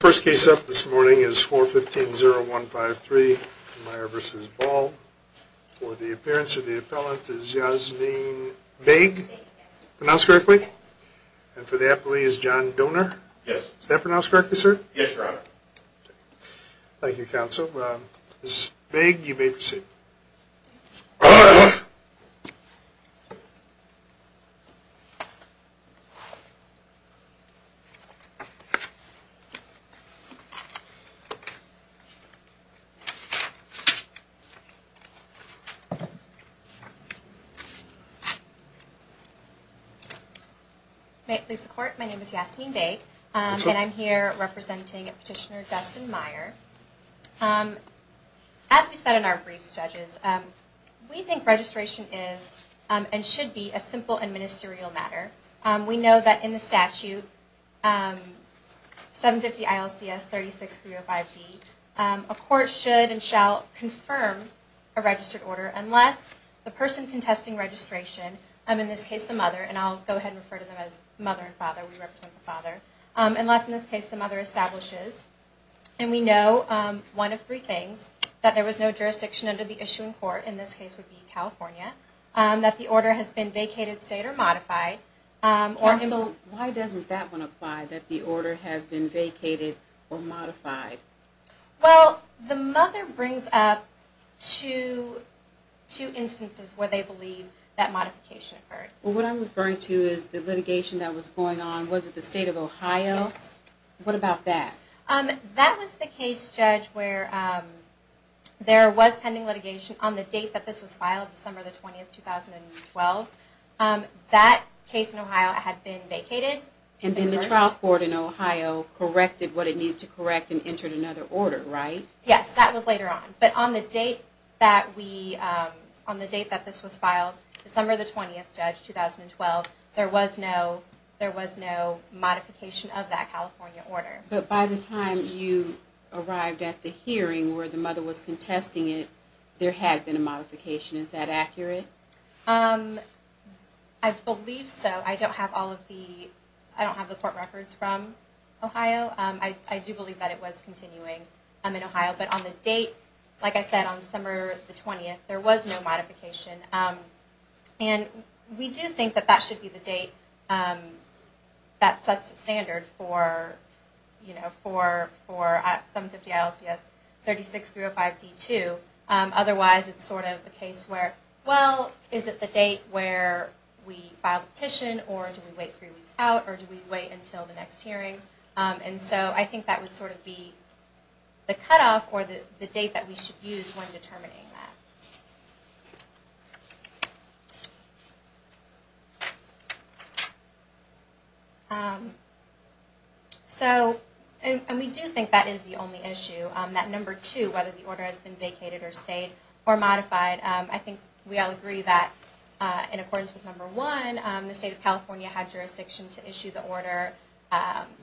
First case up this morning is 4-15-0-1-5-3, Meier v. Ball. For the appearance of the appellant is Yasmeen Baig, pronounced correctly? And for the appellee is John Doner? Yes. Is that pronounced correctly, sir? Yes, your honor. Thank you, counsel. Ms. Baig, you may proceed. May it please the court, my name is Yasmeen Baig, and I'm here representing Petitioner Dustin Meier. As we said in our briefs, judges, we think registration is and should be a simple and ministerial matter. We know that in the statute, 750 ILCS 36305D, a court should and shall confirm a registered order unless the person contesting registration, in this case the mother, and I'll go ahead and refer to them as mother and father, unless in this case the mother establishes, and we know one of three things, that there was no jurisdiction under the issuing court, in this case would be California, that the order has been vacated, stayed, or modified. Counsel, why doesn't that one apply, that the order has been vacated or modified? Well, the mother brings up two instances where they believe that modification occurred. Well, what I'm referring to is the litigation that was going on, was it the state of Ohio? Yes. What about that? That was the case, judge, where there was pending litigation on the date that this was filed, December the 20th, 2012. That case in Ohio had been vacated. And then the trial court in Ohio corrected what it needed to correct and entered another order, right? Yes, that was later on. But on the date that this was filed, December the 20th, 2012, there was no modification of that California order. But by the time you arrived at the hearing where the mother was contesting it, there had been a modification. Is that accurate? I believe so. I don't have all of the, I don't have the court records from Ohio. I do believe that it was continuing in Ohio. But on the date, like I said, on December the 20th, there was no modification. And we do think that that should be the date that sets the standard for, you know, for 750-ISDS-36-305-D2. Otherwise, it's sort of a case where, well, is it the date where we file the petition or do we wait three weeks out or do we wait until the next hearing? And so I think that would sort of be the cutoff or the date that we should use when determining that. So, and we do think that is the only issue. That number two, whether the order has been vacated or stayed or modified, I think we all agree that in accordance with number one, the State of California had jurisdiction to issue the order.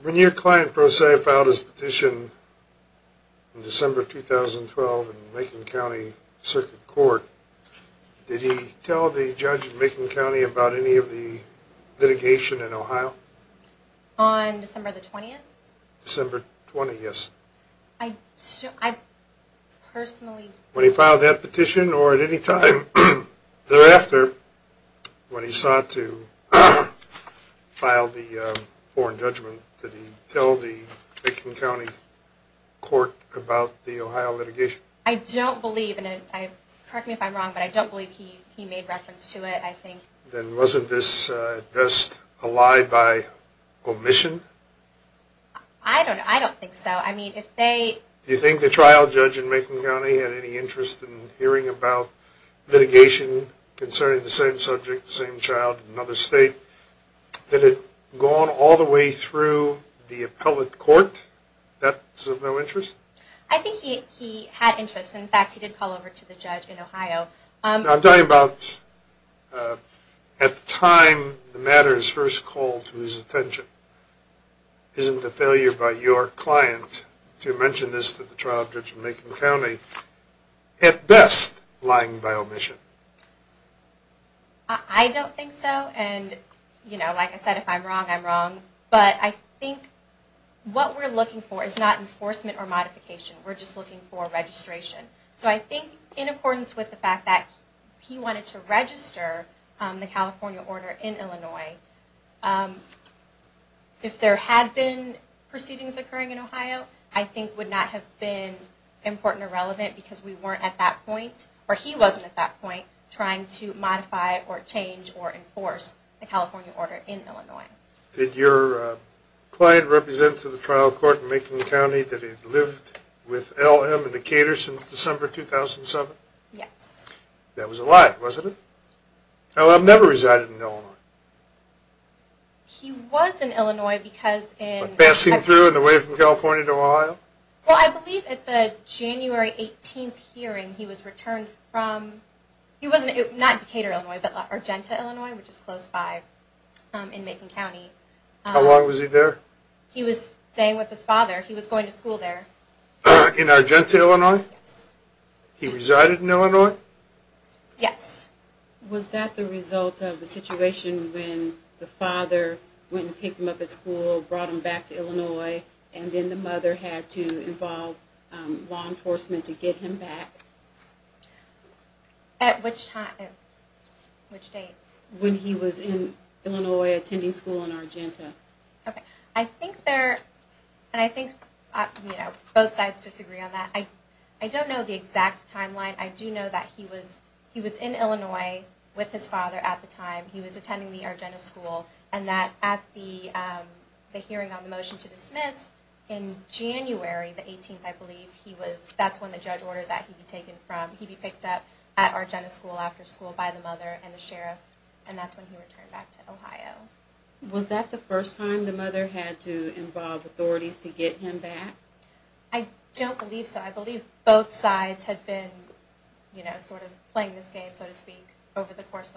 When your client, pro se, filed his petition in December 2012 in Macon County Circuit Court, did he tell the judge in Macon County about any of the litigation in Ohio? On December the 20th? December 20th, yes. I personally When he filed that petition or at any time thereafter when he sought to file the foreign judgment, did he tell the Macon County Court about the Ohio litigation? I don't believe, and correct me if I'm wrong, but I don't believe he made reference to it, I think. Then wasn't this just a lie by omission? I don't think so. I mean, if they Do you think the trial judge in Macon County had any interest in hearing about litigation concerning the same subject, the same child in another state that had gone all the way through the appellate court? That's of no interest? I think he had interest. In fact, he did call over to the judge in Ohio. I'm talking about at the time the matter is first called to his attention. Isn't the failure by your client to mention this to the trial judge in Macon County, at best, lying by omission? I don't think so, and you know, like I said, if I'm wrong, I'm wrong. But I think what we're looking for is not enforcement or modification. We're just looking for registration. So I think in accordance with the fact that he wanted to register the California order in Illinois, if there had been proceedings occurring in Ohio, I think would not have been important or relevant because we weren't at that point, or he wasn't at that point, trying to modify or change or enforce the California order in Illinois. Did your client represent to the trial court in Macon County that he'd lived with L.M. and Decatur since December 2007? Yes. That was a lie, wasn't it? L.M. never resided in Illinois. He was in Illinois because in... Passing through and away from California to Ohio? Well, I believe at the January 18th hearing, he was returned from... Not Decatur, Illinois, but Argenta, Illinois, which is close by in Macon County. How long was he there? He was staying with his father. He was going to school there. In Argenta, Illinois? Yes. He resided in Illinois? Yes. Was that the result of the situation when the father went and picked him up at school, brought him back to Illinois, and then the mother had to involve law enforcement to get him back? At which time? At which date? When he was in Illinois attending school in Argenta. Okay. I think there... And I think both sides disagree on that. I don't know the exact timeline. I do know that he was in Illinois with his father at the time. He was attending the Argenta school. And that at the hearing on the motion to dismiss in January the 18th, I believe, he was... That's when the judge ordered that he be taken from... He be picked up at Argenta school after school by the mother and the sheriff. And that's when he returned back to Ohio. Was that the first time the mother had to involve authorities to get him back? I don't believe so. I believe both sides had been, you know, sort of playing this game, so to speak, over the course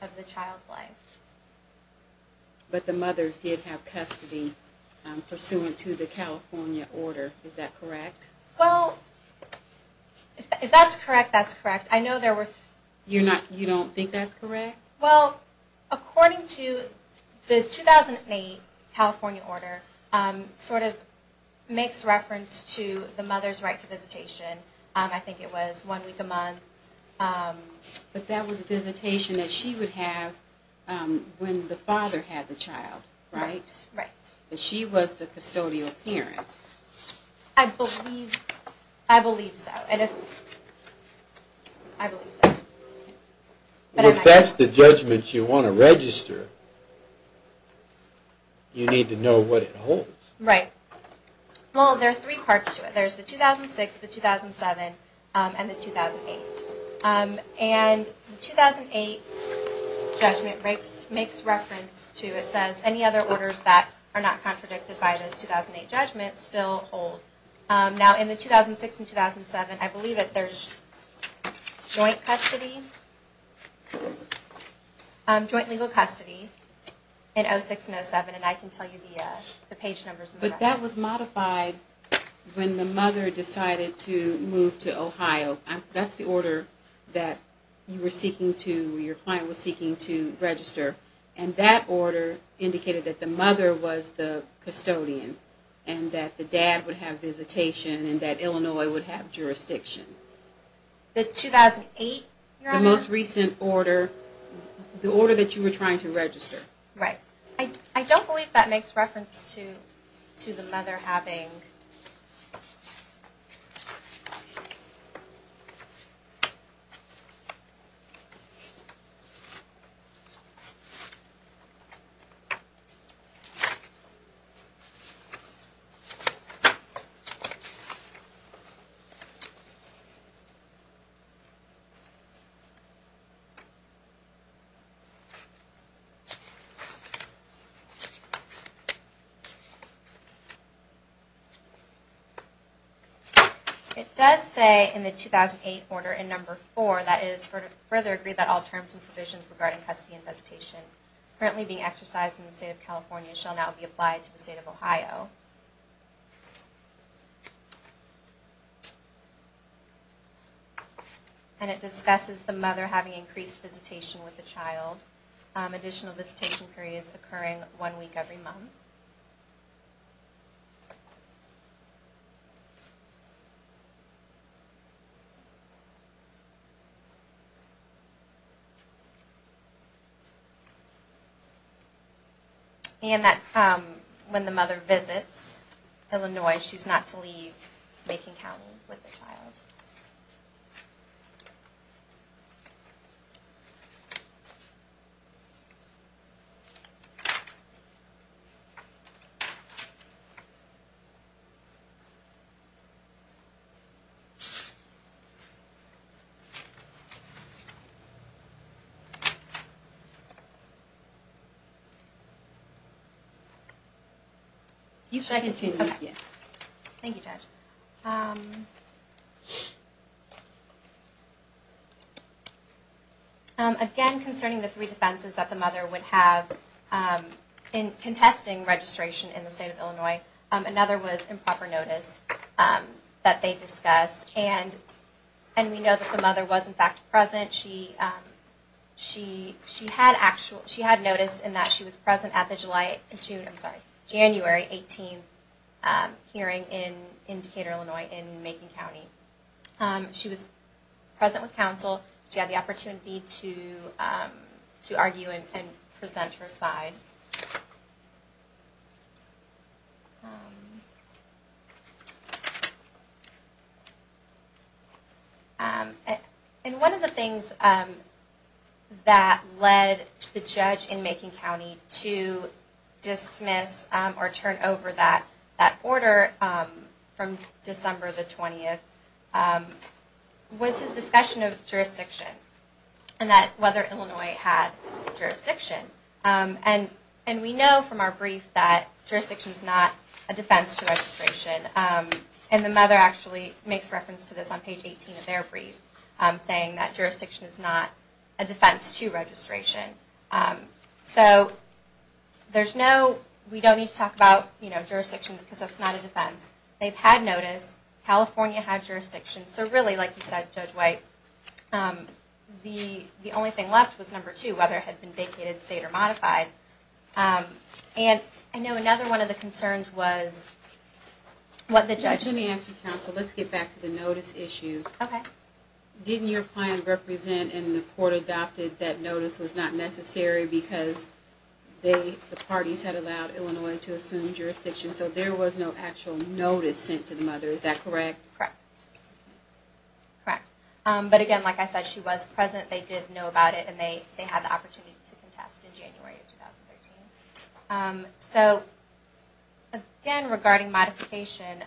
of the child's life. But the mother did have custody pursuant to the California order. Is that correct? Well, if that's correct, that's correct. I know there were... You don't think that's correct? Well, according to the 2008 California order, sort of makes reference to the mother's right to visitation. I think it was one week a month. But that was a visitation that she would have when the father had the child, right? Right. She was the custodial parent. I believe so. I believe so. If that's the judgment you want to register, you need to know what it holds. Right. Well, there are three parts to it. There's the 2006, the 2007, and the 2008. And the 2008 judgment makes reference to, it says, any other orders that are not contradicted by those 2008 judgments still hold. Now, in the 2006 and 2007, I believe that there's joint custody, joint legal custody in 2006 and 2007. And I can tell you the page numbers. But that was modified when the mother decided to move to Ohio. That's the order that you were seeking to, your client was seeking to register. And that order indicated that the mother was the custodian and that the dad would have visitation and that Illinois would have jurisdiction. The 2008, Your Honor? The most recent order, the order that you were trying to register. Right. I don't believe that makes reference to the mother having. It does say in the 2008 order, in number four, that it is further agreed that all terms and provisions regarding custody and visitation currently being exercised in the state of California shall now be applied to the state of Ohio. And it discusses the mother having increased visitation with the child, additional visitation periods occurring, one week every month. And that when the mother visits Illinois, she's not to leave Macon County with the child. Thank you. You should continue, yes. Thank you, Judge. Okay. Again, concerning the three defenses that the mother would have in contesting registration in the state of Illinois, another was improper notice that they discussed. And we know that the mother was, in fact, present. She had actual, she had notice in that she was present at the July, June, I'm sorry, January 18th hearing in Decatur, Illinois, in Macon County. She was present with counsel. She had the opportunity to argue and present her side. Thank you. And one of the things that led the judge in Macon County to dismiss or turn over that order from December the 20th was his discussion of jurisdiction and that whether Illinois had jurisdiction. And we know from our brief that jurisdiction is not a defense to registration. And the mother actually makes reference to this on page 18 of their brief, saying that jurisdiction is not a defense to registration. So there's no, we don't need to talk about jurisdiction because it's not a defense. They've had notice. California had jurisdiction. So really, like you said, Judge White, the only thing left was number two, whether it had been vacated, stayed, or modified. And I know another one of the concerns was what the judge said. Let me ask you, counsel, let's get back to the notice issue. Okay. Didn't your client represent and the court adopted that notice was not necessary because the parties had allowed Illinois to assume jurisdiction, so there was no actual notice sent to the mother. Is that correct? Correct. Correct. But again, like I said, she was present, they did know about it, and they had the opportunity to contest in January of 2013. So again, regarding modification,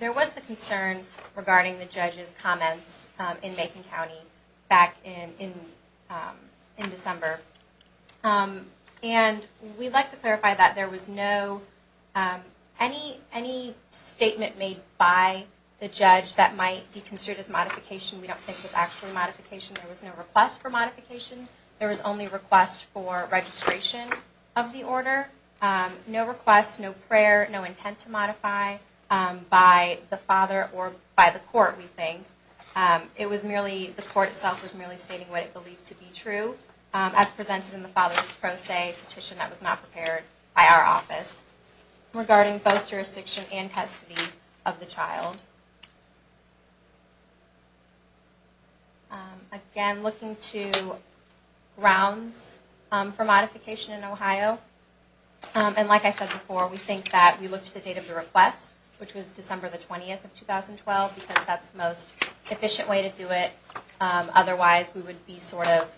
there was the concern regarding the judge's comments in Macon County back in December. And we'd like to clarify that there was no, any statement made by the judge that might be considered as modification, we don't think was actually modification. There was no request for modification. There was only request for registration of the order. No request, no prayer, no intent to modify by the father or by the court, we think. It was merely, the court itself was merely stating what it believed to be true. As presented in the father's pro se petition that was not prepared by our office, regarding both jurisdiction and custody of the child. Again, looking to grounds for modification in Ohio, and like I said before, we think that we look to the date of the request, which was December the 20th of 2012, because that's the most efficient way to do it. Otherwise, we would be sort of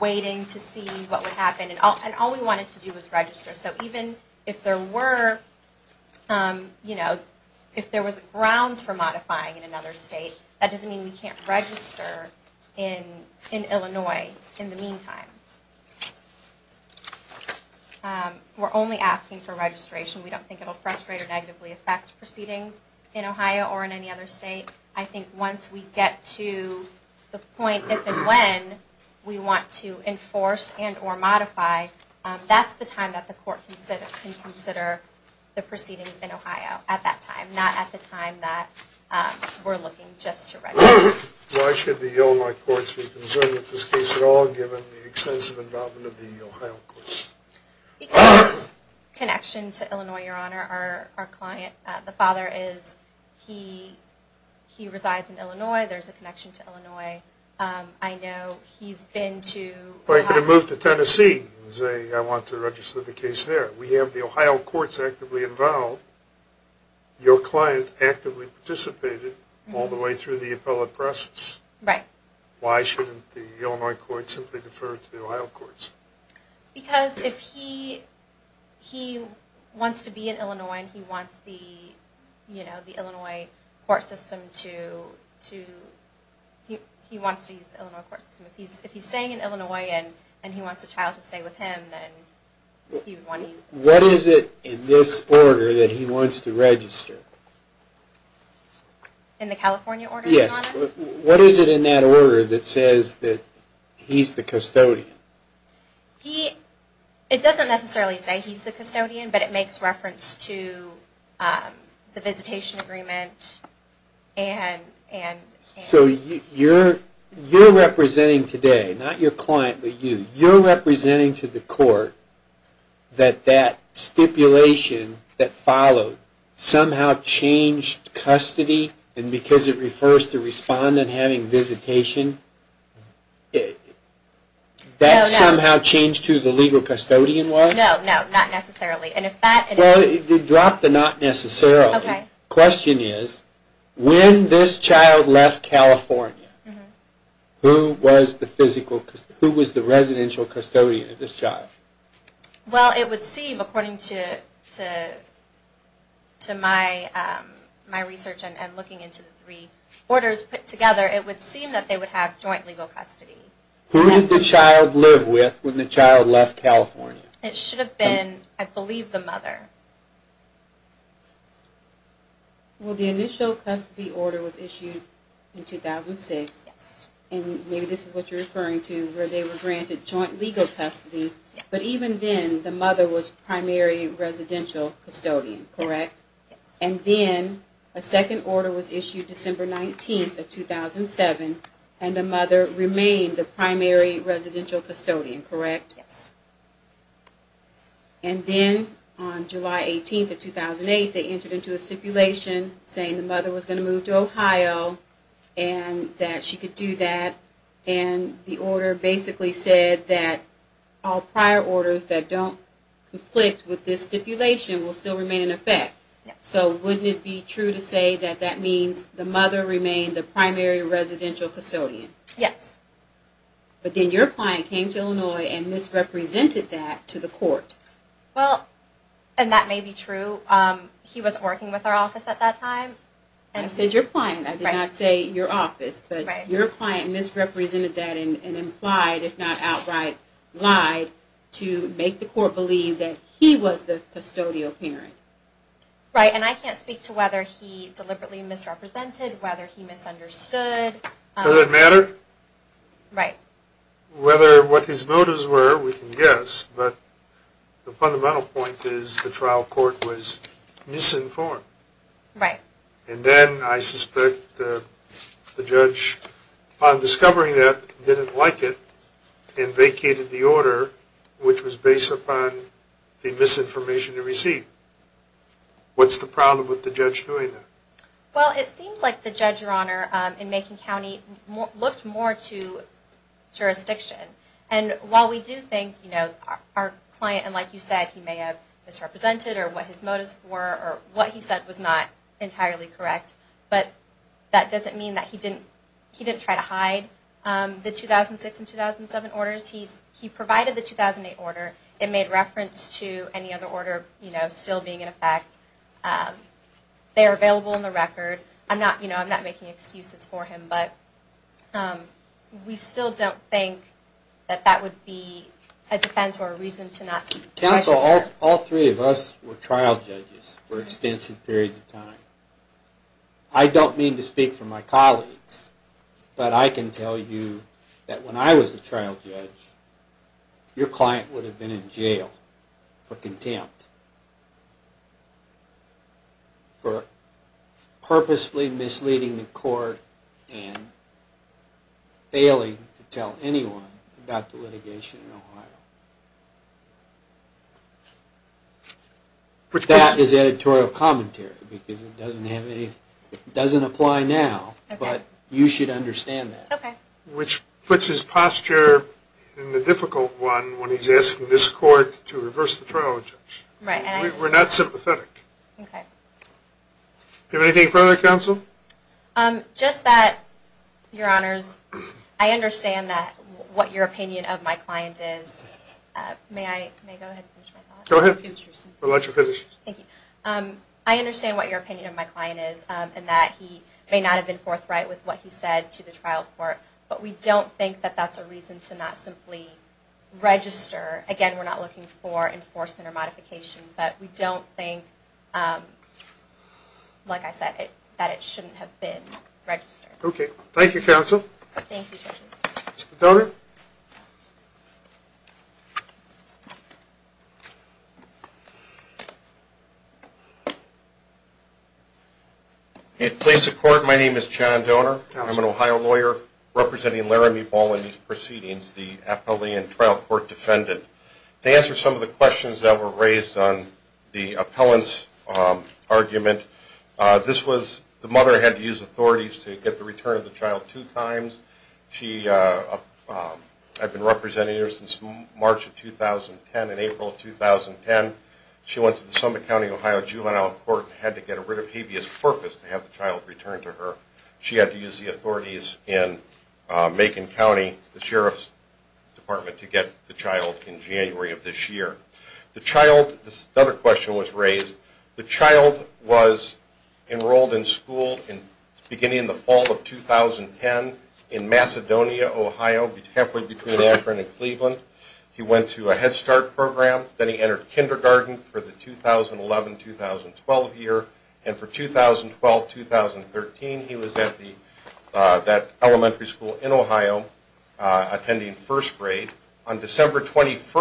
waiting to see what would happen. And all we wanted to do was register. So even if there were, you know, if there was grounds for modifying in another state, that doesn't mean we can't register in Illinois in the meantime. We're only asking for registration. We don't think it will frustrate or negatively affect proceedings in Ohio or in any other state. I think once we get to the point if and when we want to enforce and or modify, that's the time that the court can consider the proceedings in Ohio at that time, not at the time that we're looking just to register. Why should the Illinois courts be concerned with this case at all, given the extensive involvement of the Ohio courts? Because connection to Illinois, Your Honor, our client, the father is, he resides in Illinois. There's a connection to Illinois. I know he's been to Ohio. Well, he could have moved to Tennessee and say, I want to register the case there. We have the Ohio courts actively involved. Your client actively participated all the way through the appellate process. Right. Why shouldn't the Illinois courts simply defer to the Ohio courts? Because if he wants to be in Illinois and he wants the, you know, the Illinois court system to, he wants to use the Illinois court system. If he's staying in Illinois and he wants a child to stay with him, then he would want to use the Illinois courts. What is it in this order that he wants to register? In the California order, Your Honor? Yes. What is it in that order that says that he's the custodian? He, it doesn't necessarily say he's the custodian, but it makes reference to the visitation agreement and... So you're representing today, not your client, but you, you're representing to the court that that stipulation that followed somehow changed custody and because it refers to respondent having visitation, that somehow changed who the legal custodian was? No, no. Not necessarily. And if that... Well, it dropped the not necessarily. Okay. The question is, when this child left California, who was the physical, who was the residential custodian of this child? Well, it would seem, according to my research and looking into the three orders put together, it would seem that they would have joint legal custody. Who did the child live with when the child left California? It should have been, I believe, the mother. Well, the initial custody order was issued in 2006. Yes. And maybe this is what you're referring to, where they were granted joint legal custody, but even then the mother was primary residential custodian, correct? Yes. And then a second order was issued December 19th of 2007, and the mother remained the primary residential custodian, correct? Yes. And then on July 18th of 2008, they entered into a stipulation saying the mother was going to move to Ohio and that she could do that. And the order basically said that all prior orders that don't conflict with this stipulation will still remain in effect. So wouldn't it be true to say that that means the mother remained the primary residential custodian? Yes. But then your client came to Illinois and misrepresented that to the court. Well, and that may be true. He was working with our office at that time. I said your client. I did not say your office. But your client misrepresented that and implied, if not outright lied, to make the court believe that he was the custodial parent. Right. And I can't speak to whether he deliberately misrepresented, whether he misunderstood. Does it matter? Right. Whether what his motives were, we can guess. But the fundamental point is the trial court was misinformed. Right. And then I suspect the judge, upon discovering that, didn't like it and vacated the order, which was based upon the misinformation it received. What's the problem with the judge doing that? Well, it seems like the judge, Your Honor, in Macon County, looked more to jurisdiction. And while we do think, you know, our client, and like you said, he may have misrepresented or what his motives were or what he said was not entirely correct, but that doesn't mean that he didn't try to hide the 2006 and 2007 orders. He provided the 2008 order. It made reference to any other order, you know, still being in effect. They are available in the record. You know, I'm not making excuses for him, but we still don't think that that would be a defense or a reason to not sue. Counsel, all three of us were trial judges for extensive periods of time. I don't mean to speak for my colleagues, but I can tell you that when I was a trial judge, your client would have been in jail for contempt, for purposefully misleading the court and failing to tell anyone about the litigation in Ohio. That is editorial commentary because it doesn't apply now, but you should understand that. Okay. Which puts his posture in the difficult one when he's asking this court to reverse the trial judge. Right. We're not sympathetic. Okay. Do you have anything further, Counsel? Just that, Your Honors, I understand what your opinion of my client is. May I go ahead and finish my thought? Go ahead. I'll let you finish. Thank you. I understand what your opinion of my client is and that he may not have been forthright with what he said to the trial court, but we don't think that that's a reason to not simply register. Again, we're not looking for enforcement or modification, but we don't think, like I said, that it shouldn't have been registered. Okay. Thank you, Counsel. Thank you, Judge. Mr. Donor. In place of court, my name is John Donor. Counsel. I'm an Ohio lawyer representing Laramie Ball in these proceedings, the appellee and trial court defendant. To answer some of the questions that were raised on the appellant's argument, this was the mother had to use authorities to get the return of the child two times. I've been representing her since March of 2010 and April of 2010. She went to the Summit County, Ohio juvenile court and had to get rid of habeas corpus to have the child returned to her. She had to use the authorities in Macon County, the Sheriff's Department, to get the child in January of this year. Another question was raised. The child was enrolled in school beginning in the fall of 2010 in Macedonia, Ohio, halfway between Akron and Cleveland. He went to a Head Start program. Then he entered kindergarten for the 2011-2012 year. And for 2012-2013, he was at that elementary school in Ohio attending first grade. On December 20th,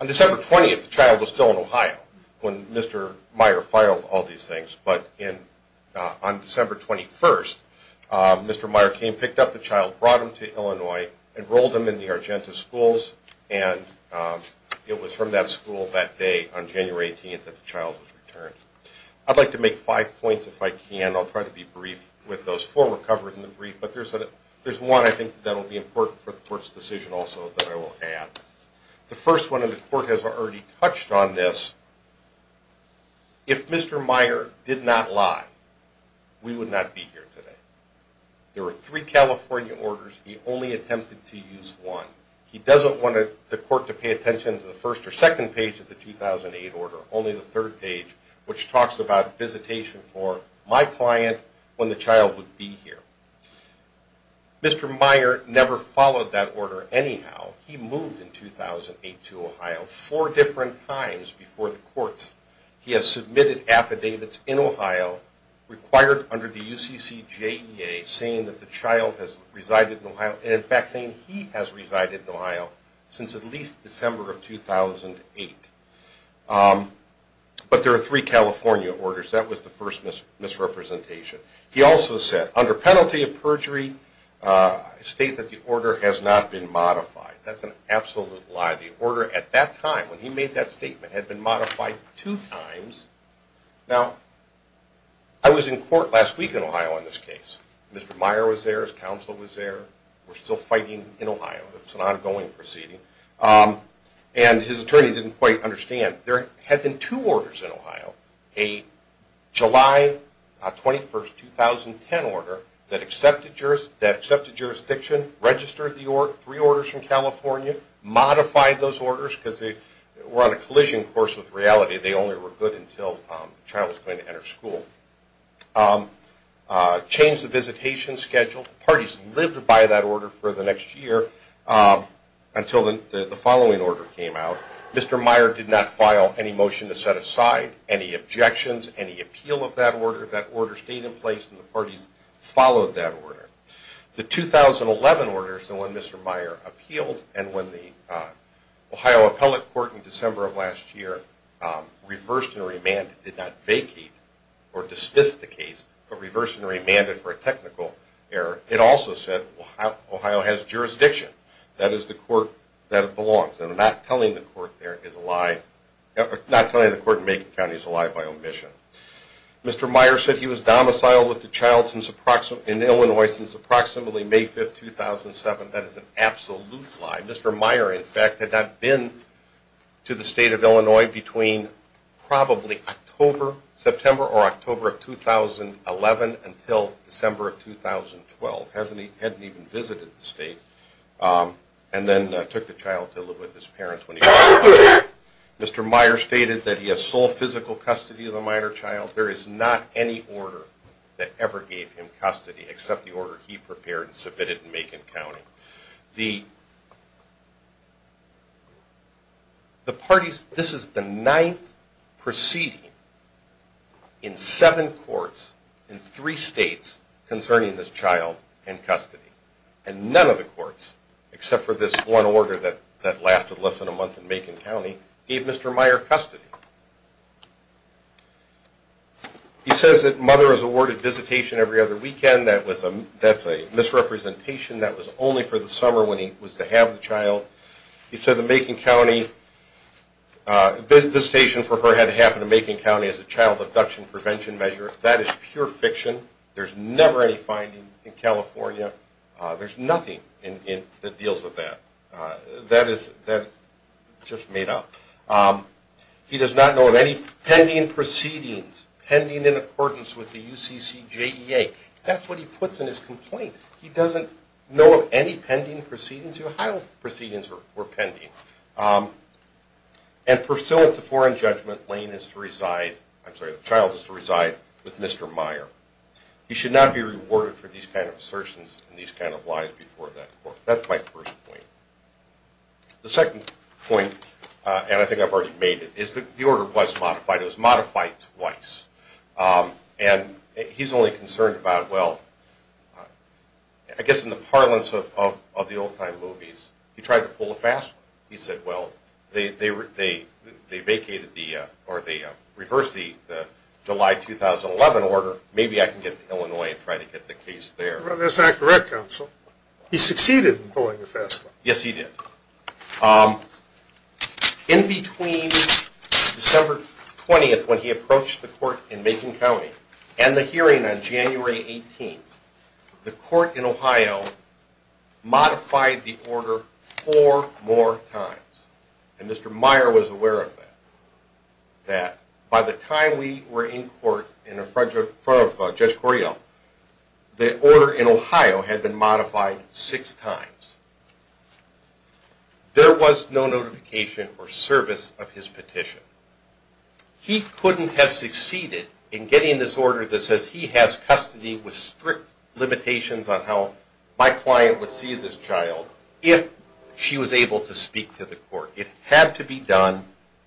the child was still in Ohio when Mr. Meyer filed all these things. But on December 21st, Mr. Meyer came, picked up the child, brought him to Illinois, enrolled him in the Argenta schools, and it was from that school that day on January 18th that the child was returned. I'd like to make five points if I can. I'll try to be brief with those. Four were covered in the brief, but there's one I think that will be important for the court's decision also that I will add. The first one, and the court has already touched on this, if Mr. Meyer did not lie, we would not be here today. There were three California orders. He only attempted to use one. He doesn't want the court to pay attention to the first or second page of the 2008 order, only the third page, which talks about visitation for my client when the child would be here. Mr. Meyer never followed that order anyhow. He moved in 2008 to Ohio four different times before the courts. He has submitted affidavits in Ohio required under the UCC JEA saying that the child has resided in Ohio and in fact saying he has resided in Ohio since at least December of 2008. But there are three California orders. That was the first misrepresentation. He also said, under penalty of perjury, state that the order has not been modified. That's an absolute lie. The order at that time, when he made that statement, had been modified two times. Now, I was in court last week in Ohio on this case. Mr. Meyer was there, his counsel was there. We're still fighting in Ohio. It's an ongoing proceeding. And his attorney didn't quite understand. There had been two orders in Ohio, a July 21, 2010 order that accepted jurisdiction, registered three orders from California, modified those orders because they were on a collision course with reality. They only were good until the child was going to enter school. Changed the visitation schedule. Parties lived by that order for the next year until the following order came out. Mr. Meyer did not file any motion to set aside any objections, any appeal of that order. That order stayed in place, and the parties followed that order. The 2011 order is the one Mr. Meyer appealed, and when the Ohio appellate court in December of last year reversed and remanded, did not vacate or dismiss the case, but reversed and remanded for a technical error, it also said Ohio has jurisdiction. That is the court that it belongs. And not telling the court in Macon County is a lie by omission. Mr. Meyer said he was domiciled with the child in Illinois since approximately May 5, 2007. That is an absolute lie. Mr. Meyer, in fact, had not been to the state of Illinois between probably October, September or October of 2011 until December of 2012. Hadn't even visited the state, and then took the child to live with his parents when he was older. Mr. Meyer stated that he has sole physical custody of the minor child. There is not any order that ever gave him custody except the order he prepared and submitted in Macon County. This is the ninth proceeding in seven courts in three states concerning this child in custody. And none of the courts, except for this one order that lasted less than a month in Macon County, gave Mr. Meyer custody. He says that mother was awarded visitation every other weekend. That's a misrepresentation. That was only for the summer when he was to have the child. He said the Macon County visitation for her had to happen in Macon County as a child abduction prevention measure. That is pure fiction. There's never any finding in California. There's nothing that deals with that. That is just made up. He does not know of any pending proceedings, pending in accordance with the UCCJEA. That's what he puts in his complaint. He doesn't know of any pending proceedings. The Ohio proceedings were pending. And pursuant to foreign judgment, the child is to reside with Mr. Meyer. He should not be rewarded for these kind of assertions and these kind of lies before that court. That's my first point. The second point, and I think I've already made it, is that the order was modified. It was modified twice. And he's only concerned about, well, I guess in the parlance of the old-time movies, he tried to pull a fast one. He said, well, they vacated the or they reversed the July 2011 order. Maybe I can get to Illinois and try to get the case there. That's not correct, counsel. He succeeded in pulling a fast one. Yes, he did. In between December 20th, when he approached the court in Macon County, and the hearing on January 18th, the court in Ohio modified the order four more times. And Mr. Meyer was aware of that, that by the time we were in court in front of Judge Correale, the order in Ohio had been modified six times. There was no notification or service of his petition. He couldn't have succeeded in getting this order that says he has custody with strict limitations on how my client would see this child if she was able to speak to the court. It had to be done.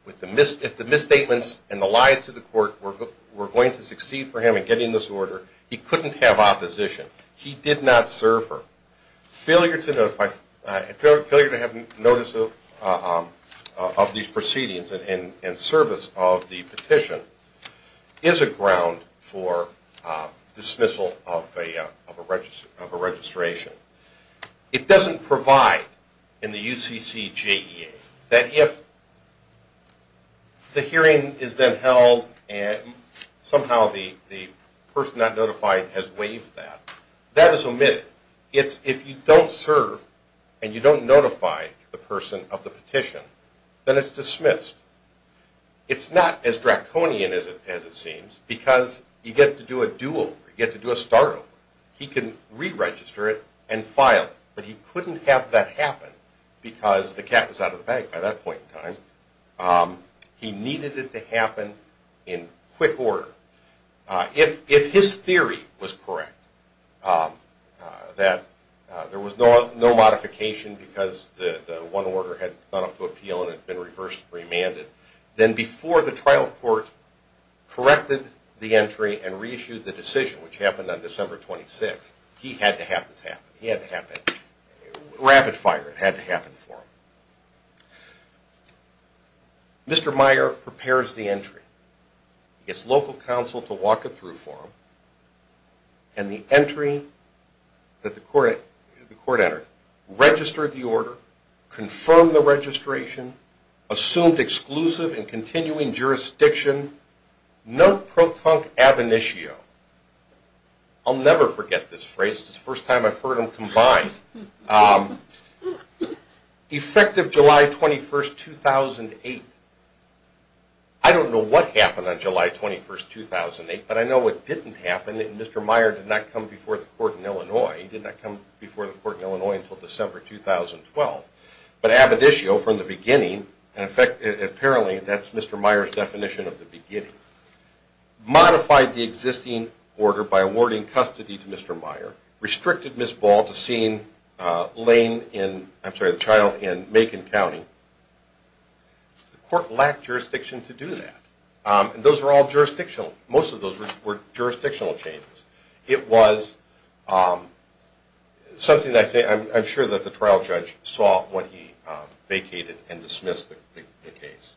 If the misstatements and the lies to the court were going to succeed for him in getting this order, he couldn't have opposition. He did not serve her. Failure to have notice of these proceedings and service of the petition is a ground for dismissal of a registration. It doesn't provide in the UCCJEA that if the hearing is then held and somehow the person not notified has waived that, that is omitted. If you don't serve and you don't notify the person of the petition, then it's dismissed. It's not as draconian as it seems because you get to do a do-over, you get to do a start-over. He can re-register it and file it, but he couldn't have that happen because the cat was out of the bag by that point in time. He needed it to happen in quick order. If his theory was correct, that there was no modification because the one order had gone up to appeal and it had been reversed and remanded, then before the trial court corrected the entry and reissued the decision, which happened on December 26th, he had to have this happen. He had to have that rapid fire. It had to happen for him. Mr. Meyer prepares the entry. He gets local counsel to walk it through for him, and the entry that the court entered, registered the order, confirmed the registration, assumed exclusive and continuing jurisdiction, no pro-tunk ab initio. I'll never forget this phrase. It's the first time I've heard them combined. Effective July 21st, 2008. I don't know what happened on July 21st, 2008, but I know what didn't happen. Mr. Meyer did not come before the court in Illinois. He did not come before the court in Illinois until December 2012. But ab initio, from the beginning, and apparently that's Mr. Meyer's definition of the beginning, modified the existing order by awarding custody to Mr. Meyer, restricted Ms. Ball to seeing the child in Macon County. The court lacked jurisdiction to do that. And those were all jurisdictional. Most of those were jurisdictional changes. It was something that I'm sure the trial judge saw when he vacated and dismissed the case.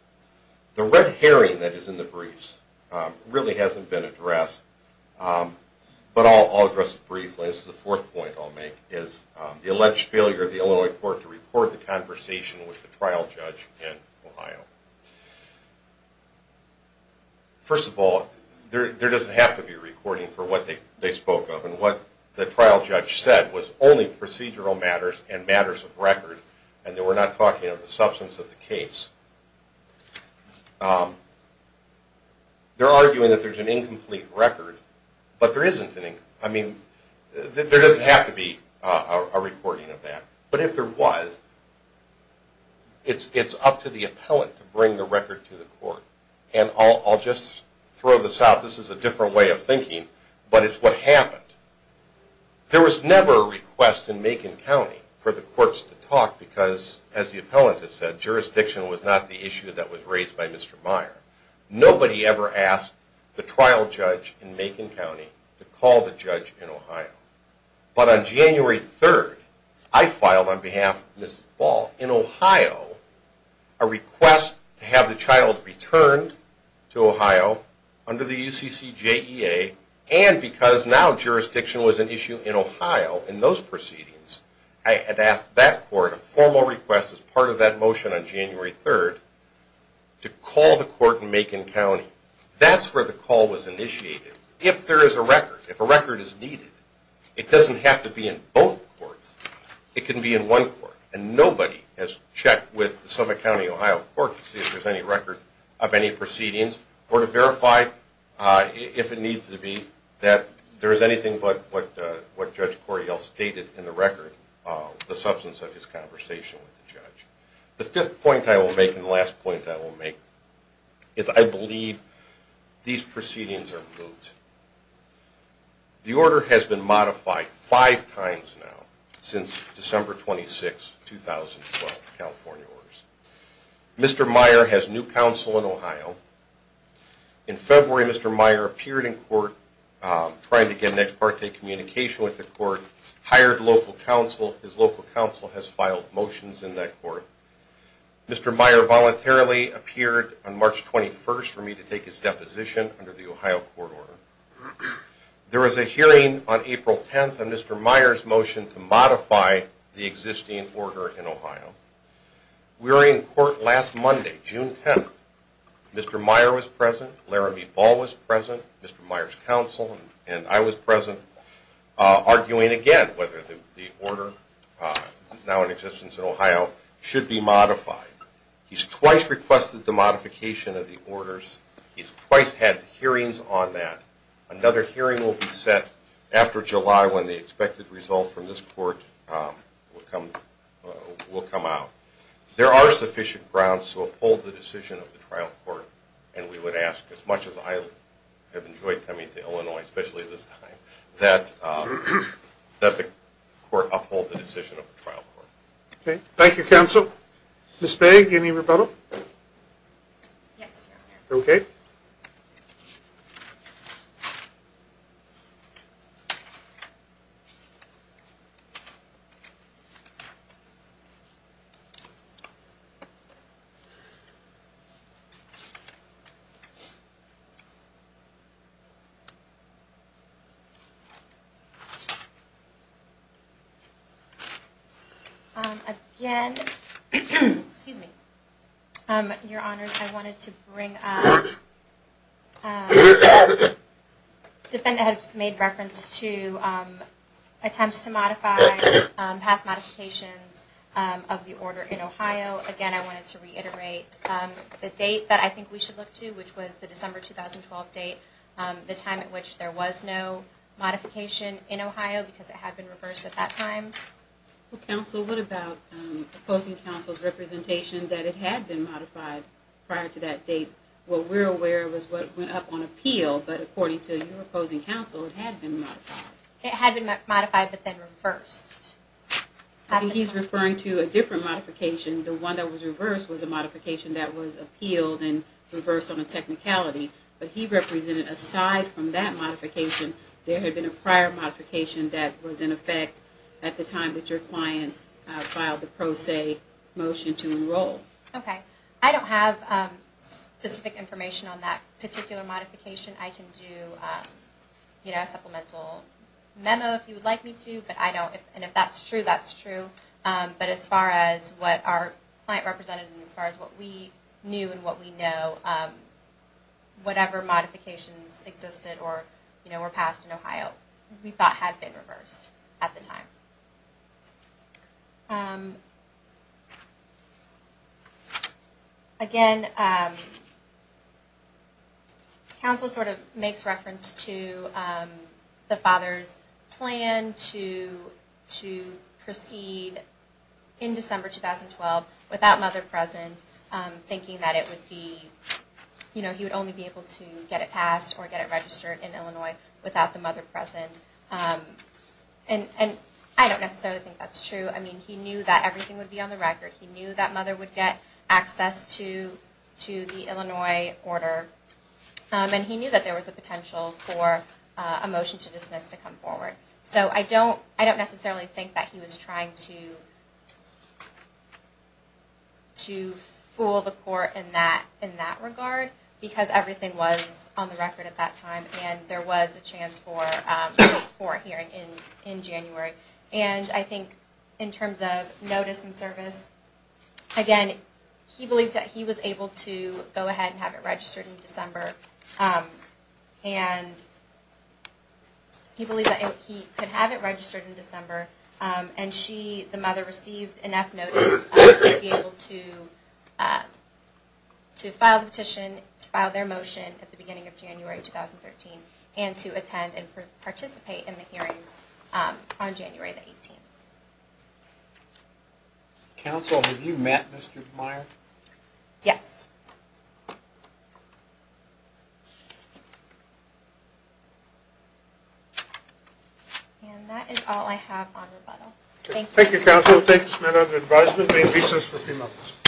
The red herring that is in the briefs really hasn't been addressed, but I'll address it briefly. This is the fourth point I'll make, is the alleged failure of the Illinois court to record the conversation with the trial judge in Ohio. First of all, there doesn't have to be a recording for what they spoke of, and what the trial judge said was only procedural matters and matters of record, and they were not talking of the substance of the case. They're arguing that there's an incomplete record, but there isn't. I mean, there doesn't have to be a recording of that. But if there was, it's up to the appellant to bring the record to the court. And I'll just throw this out. This is a different way of thinking, but it's what happened. There was never a request in Macon County for the courts to talk because, as the appellant has said, jurisdiction was not the issue that was raised by Mr. Meyer. Nobody ever asked the trial judge in Macon County to call the judge in Ohio. But on January 3rd, I filed on behalf of Mrs. Ball in Ohio a request to have the child returned to Ohio under the UCCJEA, and because now jurisdiction was an issue in Ohio in those proceedings, I had asked that court a formal request as part of that motion on January 3rd to call the court in Macon County. If there is a record, if a record is needed, it doesn't have to be in both courts. It can be in one court. And nobody has checked with the Summit County, Ohio court to see if there's any record of any proceedings or to verify if it needs to be that there is anything but what Judge Coryell stated in the record, the substance of his conversation with the judge. The fifth point I will make and the last point I will make is I believe these proceedings are moot. The order has been modified five times now since December 26, 2012, California orders. Mr. Meyer has new counsel in Ohio. In February, Mr. Meyer appeared in court trying to get an ex parte communication with the court, hired local counsel. His local counsel has filed motions in that court. Mr. Meyer voluntarily appeared on March 21st for me to take his deposition under the Ohio court order. There was a hearing on April 10th and Mr. Meyer's motion to modify the existing order in Ohio. We were in court last Monday, June 10th. Mr. Meyer was present, Laramie Ball was present, Mr. Meyer's counsel, and I was present, arguing again whether the order, now in existence in Ohio, should be modified. He's twice requested the modification of the orders. He's twice had hearings on that. Another hearing will be set after July when the expected result from this court will come out. There are sufficient grounds to uphold the decision of the trial court, and we would ask as much as I have enjoyed coming to Illinois, especially this time, that the court uphold the decision of the trial court. Okay. Thank you, counsel. Ms. Bey, any rebuttal? Yes, Your Honor. Okay. Again, Your Honors, I wanted to bring up, the defendant has made reference to attempts to modify past modifications of the order in Ohio. Again, I wanted to reiterate the date that I think we should look to, which was the December 2012 date, the time at which there was no modification in Ohio because it had been reversed at that time. Counsel, what about opposing counsel's representation that it had been modified prior to that date? What we're aware of is what went up on appeal, but according to your opposing counsel, it had been modified. It had been modified but then reversed. I think he's referring to a different modification. The one that was reversed was a modification that was appealed and reversed on a technicality, but he represented aside from that modification, there had been a prior modification that was in effect at the time that your client filed the pro se motion to enroll. Okay. I don't have specific information on that particular modification. I can do a supplemental memo if you would like me to, and if that's true, that's true. But as far as what our client represented and as far as what we knew and what we know, whatever modifications existed or were passed in Ohio, we thought had been reversed at the time. Again, counsel sort of makes reference to the father's plan to proceed in December 2012 without mother present, thinking that he would only be able to get it passed or get it registered in Illinois without the mother present. And I don't necessarily think that's true. I mean, he knew that everything would be on the record. He knew that mother would get access to the Illinois order, and he knew that there was a potential for a motion to dismiss to come forward. So I don't necessarily think that he was trying to fool the court in that regard, because everything was on the record at that time, and there was a chance for a hearing in January. And I think in terms of notice and service, again, he believed that he was able to go ahead and have it registered in December, and he believed that he could have it registered in December, and she, the mother, received enough notice to be able to file the petition, to file their motion at the beginning of January 2013, and to attend and participate in the hearing on January the 18th. Counsel, have you met Mr. Meyer? Yes. And that is all I have on rebuttal. Thank you. Thank you, Counsel. Thank you, Samantha, for your advisement. May it be so for a few moments.